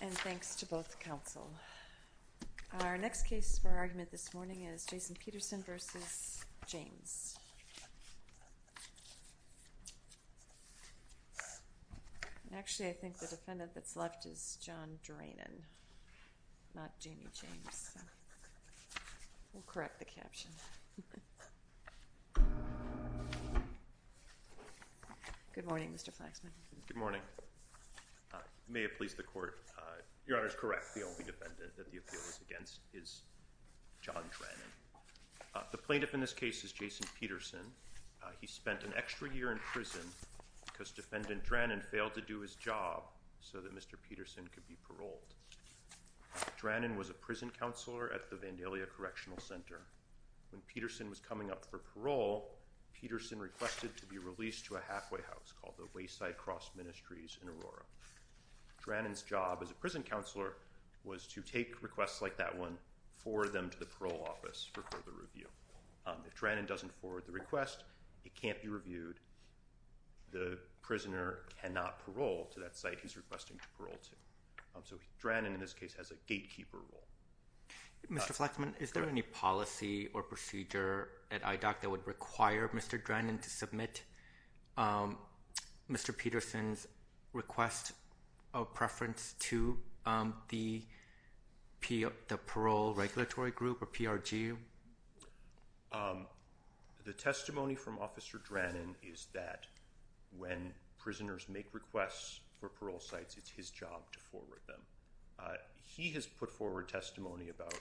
And thanks to both counsel. Our next case for argument this morning is Jason Peterson v. James. Actually, I think the defendant that's left is John Drainon, not Jeanie James. We'll correct the caption. Good morning, Mr. Flaxman. Good morning. May it please the court. Your Honor is correct. The only defendant that the appeal is against is John Drainon. The plaintiff in this case is Jason Peterson. He spent an extra year in prison because defendant Drainon failed to do his job so that Mr. Peterson could be paroled. Drainon was a prison counselor at the Vandalia Correctional Center. When Peterson was coming up for parole, Peterson requested to be released to a halfway house called the Wayside Cross Ministries in Aurora. Drainon's job as a prison counselor was to take requests like that one for them to the parole office for further review. If Drainon doesn't forward the request, it can't be reviewed. The prisoner cannot parole to that site. He's requesting to parole to. So Drainon in this case has a gatekeeper role. Mr. Flaxman, is there any policy or procedure at IDOC that would require Mr. Drainon to submit? Mr. Peterson's request of preference to the parole regulatory group or PRG? The testimony from officer Drainon is that when prisoners make requests for parole sites, it's his job to forward them. He has put forward testimony about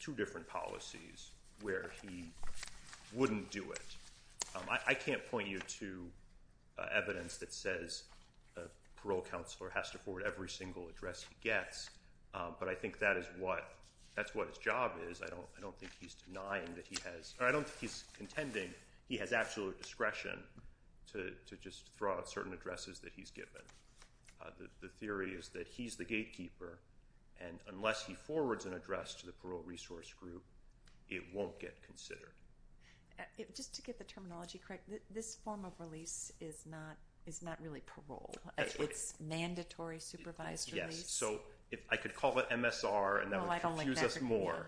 two different policies where he wouldn't do it. I can't point you to evidence that says a parole counselor has to forward every single address he gets, but I think that is what that's what his job is. I don't I don't think he's denying that he has. I don't think he's contending. He has absolute discretion to just throw out certain addresses that he's given. The theory is that he's the gatekeeper and unless he forwards an address to the parole resource group, it won't get considered. Just to get the terminology correct, this form of release is not really parole. It's mandatory supervised release. So if I could call it MSR and that would confuse us more,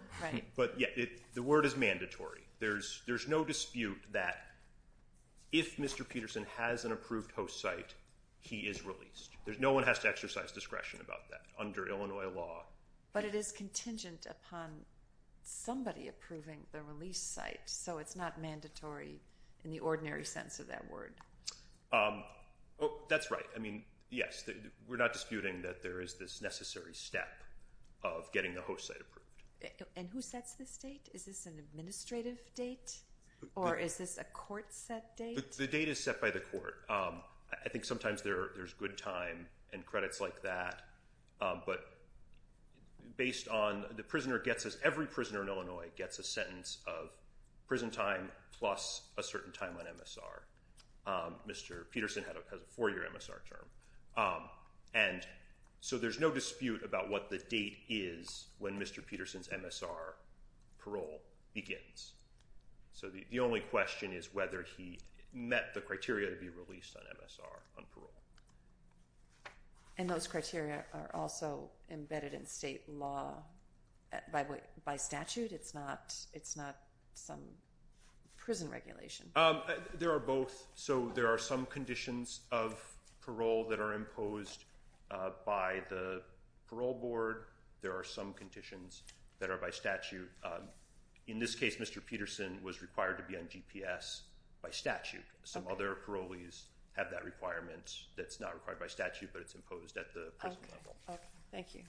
but yeah, the word is mandatory. There's no dispute that if Mr. Peterson has an approved host site, he is released. There's no one has to exercise discretion about that under Illinois law. But it is contingent upon somebody approving the release site. So it's not mandatory in the ordinary sense of that word. That's right. I mean, yes, we're not disputing that there is this necessary step of getting the host site approved. And who sets this date? Is this an administrative date or is this a court set date? The date is set by the court. I think sometimes there's good time and credits like that. But based on the prisoner gets us every prisoner in Illinois gets a sentence of prison time plus a certain time on MSR. Mr. Peterson has a four-year MSR term. And so there's no dispute about what the date is when Mr. Peterson's MSR parole begins. So the only question is whether he met the criteria to be released on MSR on parole. And those criteria are also embedded in state law by statute. It's not it's not some prison regulation. There are both. So there are some conditions of parole that are imposed by the parole board. There are some conditions that are by statute in this case. Mr. Peterson was required to be on GPS by statute. Some other parolees have that requirement that's not required by statute, but it's imposed at the present level. Thank you.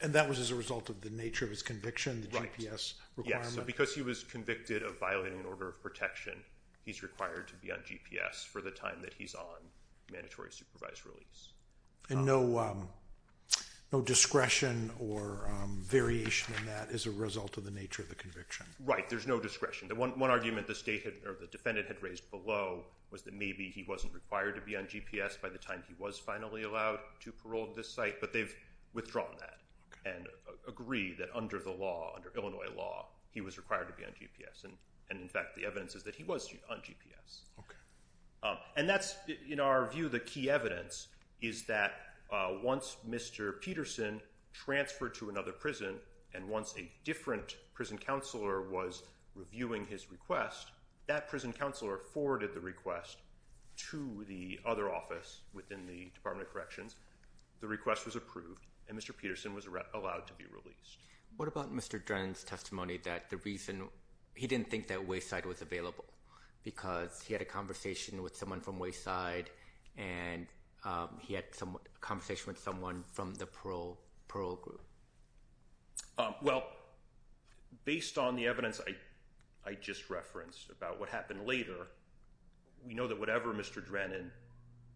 And that was as a result of the nature of his conviction. The GPS requirement. So because he was convicted of violating an order of protection, he's required to be on GPS for the time that he's on mandatory supervised release. And no discretion or variation in that is a result of the nature of the conviction. Right. There's no discretion. The one argument the state or the defendant had raised below was that maybe he wasn't required to be on GPS by the time he was finally allowed to parole this site, but they've the law under Illinois law. He was required to be on GPS. And in fact, the evidence is that he was on GPS. And that's in our view, the key evidence is that once Mr. Peterson transferred to another prison and once a different prison counselor was reviewing his request, that prison counselor forwarded the request to the other office within the Department of Corrections. The request was approved and Mr. Peterson was allowed to be released. What about Mr. Drennan's testimony that the reason he didn't think that Wayside was available because he had a conversation with someone from Wayside and he had some conversation with someone from the parole group. Well, based on the evidence I just referenced about what happened later, we know that whatever Mr. Drennan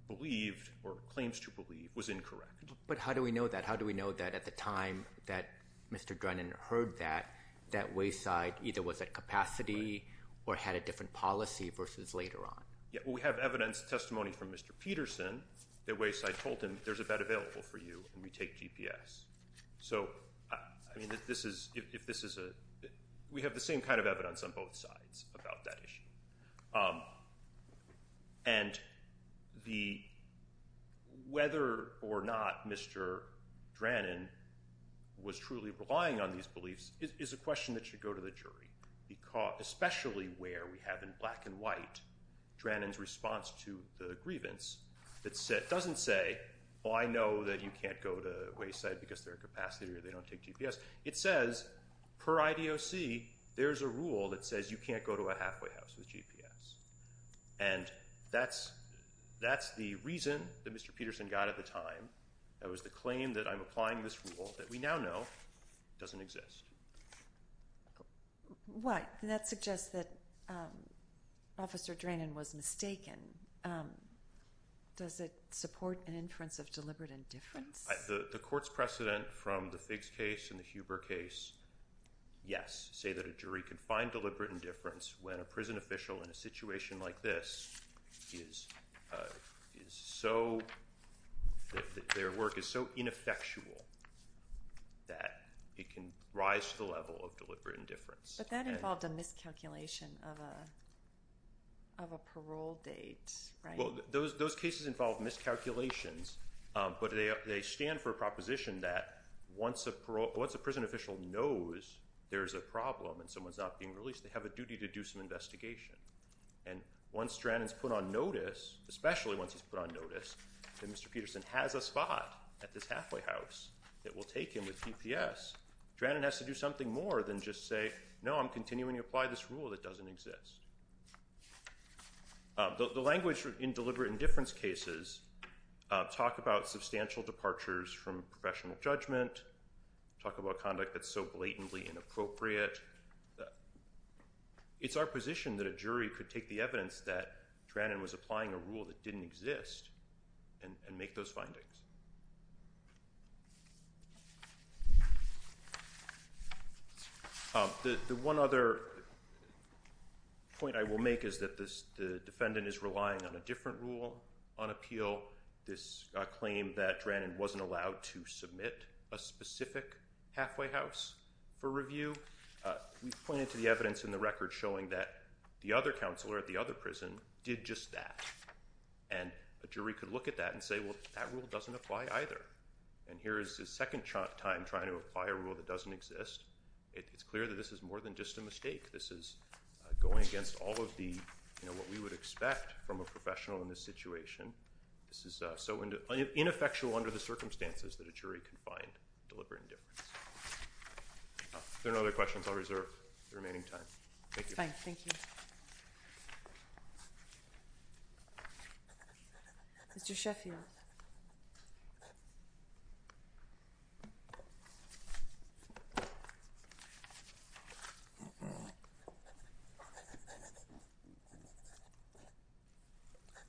believed or claims to believe was incorrect. But how do we know that? How do we know that at the time that Mr. Drennan heard that that Wayside either was at capacity or had a different policy versus later on? Yeah, we have evidence testimony from Mr. Peterson that Wayside told him there's a bed available for you and we take GPS. So I mean that this is if this is a we have the same kind of evidence on both sides about that issue. And the whether or not Mr. Drennan was truly relying on these beliefs is a question that should go to the jury because especially where we have in black and white Drennan's response to the grievance that said doesn't say well, I know that you can't go to Wayside because their capacity or they don't take GPS. It says per IDOC. There's a rule that says you can't go to a halfway house with GPS and that's that's the reason that Mr. Peterson got at the time that was the claim that I'm applying this rule that we now know doesn't exist. What that suggests that officer Drennan was mistaken. Does it support an inference of deliberate indifference the court's precedent from the figs case in the Huber case? Yes say that a jury can find deliberate indifference when a prison official in a situation like this is is so their work is so ineffectual that it can rise to the level of deliberate indifference, but that involved a miscalculation of a of a parole date. Well, those cases involve miscalculations, but they stand for a proposition that once a parole once a prison official knows there's a problem and someone's not being released they have a duty to do some investigation and once Drennan is put on notice especially once he's put on notice that Mr. Peterson has a spot at this halfway house that will take him with GPS Drennan has to do something more than just say no, I'm continuing to apply this rule that doesn't exist. The language in deliberate indifference cases talk about substantial departures from professional judgment talk about conduct that's so blatantly inappropriate that it's our position that a jury could take the evidence that Drennan was applying a rule that didn't exist and make those findings. The one other point I will make is that this the defendant is relying on a different rule on appeal this claim that Drennan wasn't allowed to submit a specific halfway house for review. We pointed to the evidence in the record showing that the other counselor at the other prison did just that and a jury could look at that and say well that rule doesn't apply either and here is the second time trying to apply a rule that doesn't exist. It's clear that this is more than just a mistake. This is going against all of the you know, what we would expect from a professional in this situation. This is so into ineffectual under the circumstances that a jury can find deliberate indifference. There are other questions. I'll reserve the remaining time. Thank you. Fine. Thank you. Mr. Sheffield.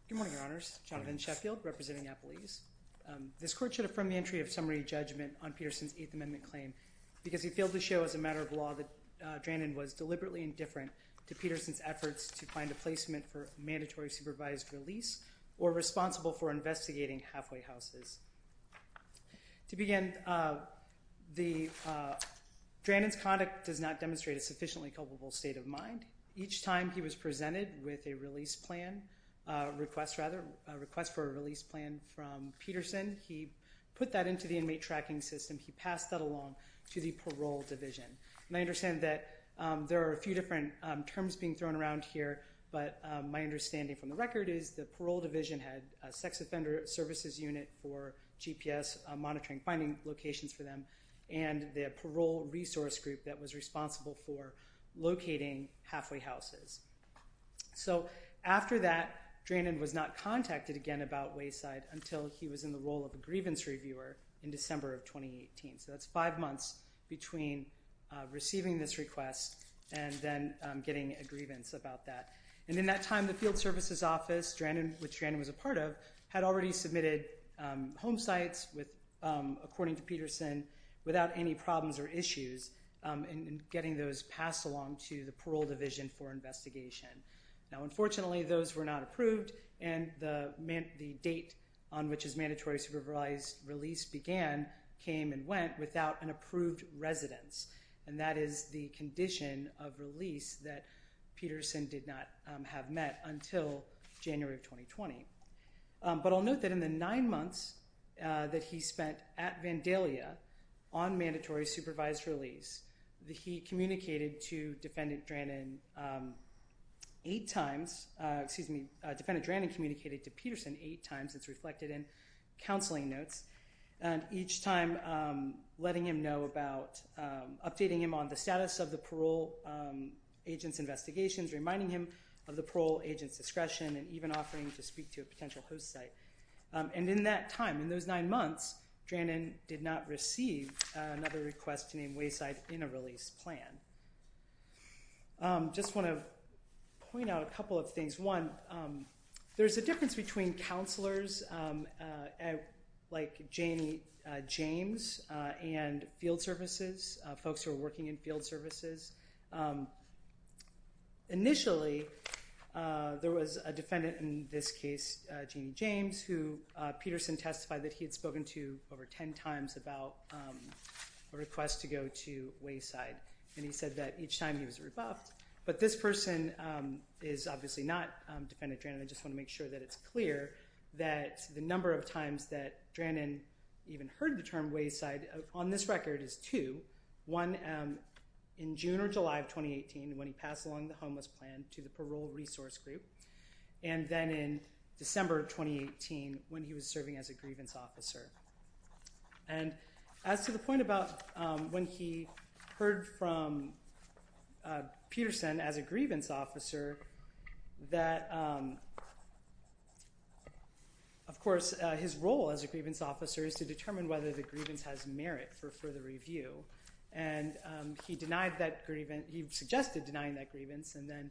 Good morning, Your Honors. Jonathan Sheffield representing Apple East. This court should have from the entry of summary judgment on Peterson's Eighth Amendment claim because he failed to show as a matter of law that Drennan was deliberately indifferent to Peterson's efforts to find a placement for mandatory supervised release or responsible for investigating halfway houses. To begin the Drennan's conduct does not demonstrate a sufficiently culpable state of mind each time. He was presented with a release plan request rather request for a release plan from Peterson. He put that into the inmate tracking system. He passed that along to the parole division and I understand that there are a few different terms being thrown around here, but my understanding from the record is the parole defender services unit for GPS monitoring finding locations for them and the parole resource group that was responsible for locating halfway houses. So after that Drennan was not contacted again about Wayside until he was in the role of a grievance reviewer in December of 2018. So that's five months between receiving this request and then getting a grievance about that and in that time the field services office Drennan which Drennan was a part of had already submitted home sites with according to Peterson without any problems or issues in getting those passed along to the parole division for investigation. Now, unfortunately those were not approved and the date on which is mandatory supervised release began came and went without an approved residence and that is the condition of met until January of 2020, but I'll note that in the nine months that he spent at Vandalia on mandatory supervised release that he communicated to defendant Drennan eight times, excuse me, defendant Drennan communicated to Peterson eight times. It's reflected in counseling notes and each time letting him know about updating him on the status of the parole agent's discretion and even offering to speak to a potential host site and in that time in those nine months Drennan did not receive another request to name Wayside in a release plan. Just want to point out a couple of things. One, there's a difference between counselors like Jamie James and field services folks who are working in field services. Initially, there was a defendant in this case, Jamie James, who Peterson testified that he had spoken to over ten times about a request to go to Wayside and he said that each time he was rebuffed, but this person is obviously not defendant Drennan. I just want to make sure that it's clear that the number of times that Drennan even heard the term Wayside on this record is two, one in June or July of 2018 when he passed along the Homeless Plan to the Parole Resource Group and then in December 2018 when he was serving as a grievance officer. And as to the point about when he heard from Peterson as a grievance officer that, of course, his role as a grievance officer is to determine whether the grievance has merit for the review and he suggested denying that grievance and then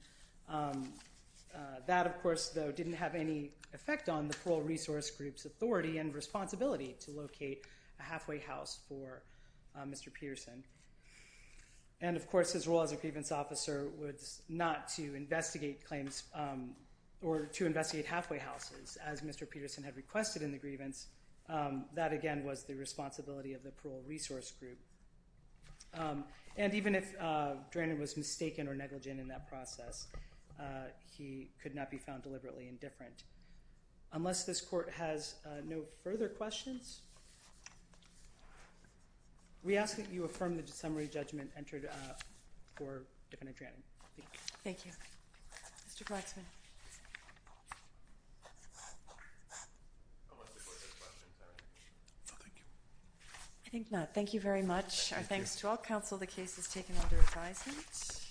that, of course, though didn't have any effect on the Parole Resource Group's authority and responsibility to locate a halfway house for Mr. Peterson. And, of course, his role as a grievance officer was not to investigate claims or to investigate halfway houses as Mr. Peterson had requested in the grievance. That, again, was the responsibility of the Parole Resource Group and even if Drennan was mistaken or negligent in that process, he could not be found deliberately indifferent. Unless this court has no further questions, we ask that you affirm the summary judgment entered for defendant Drennan. Thank you. Mr. Glatzman. I think not. Thank you very much. Our thanks to all counsel. The case is taken under advisement.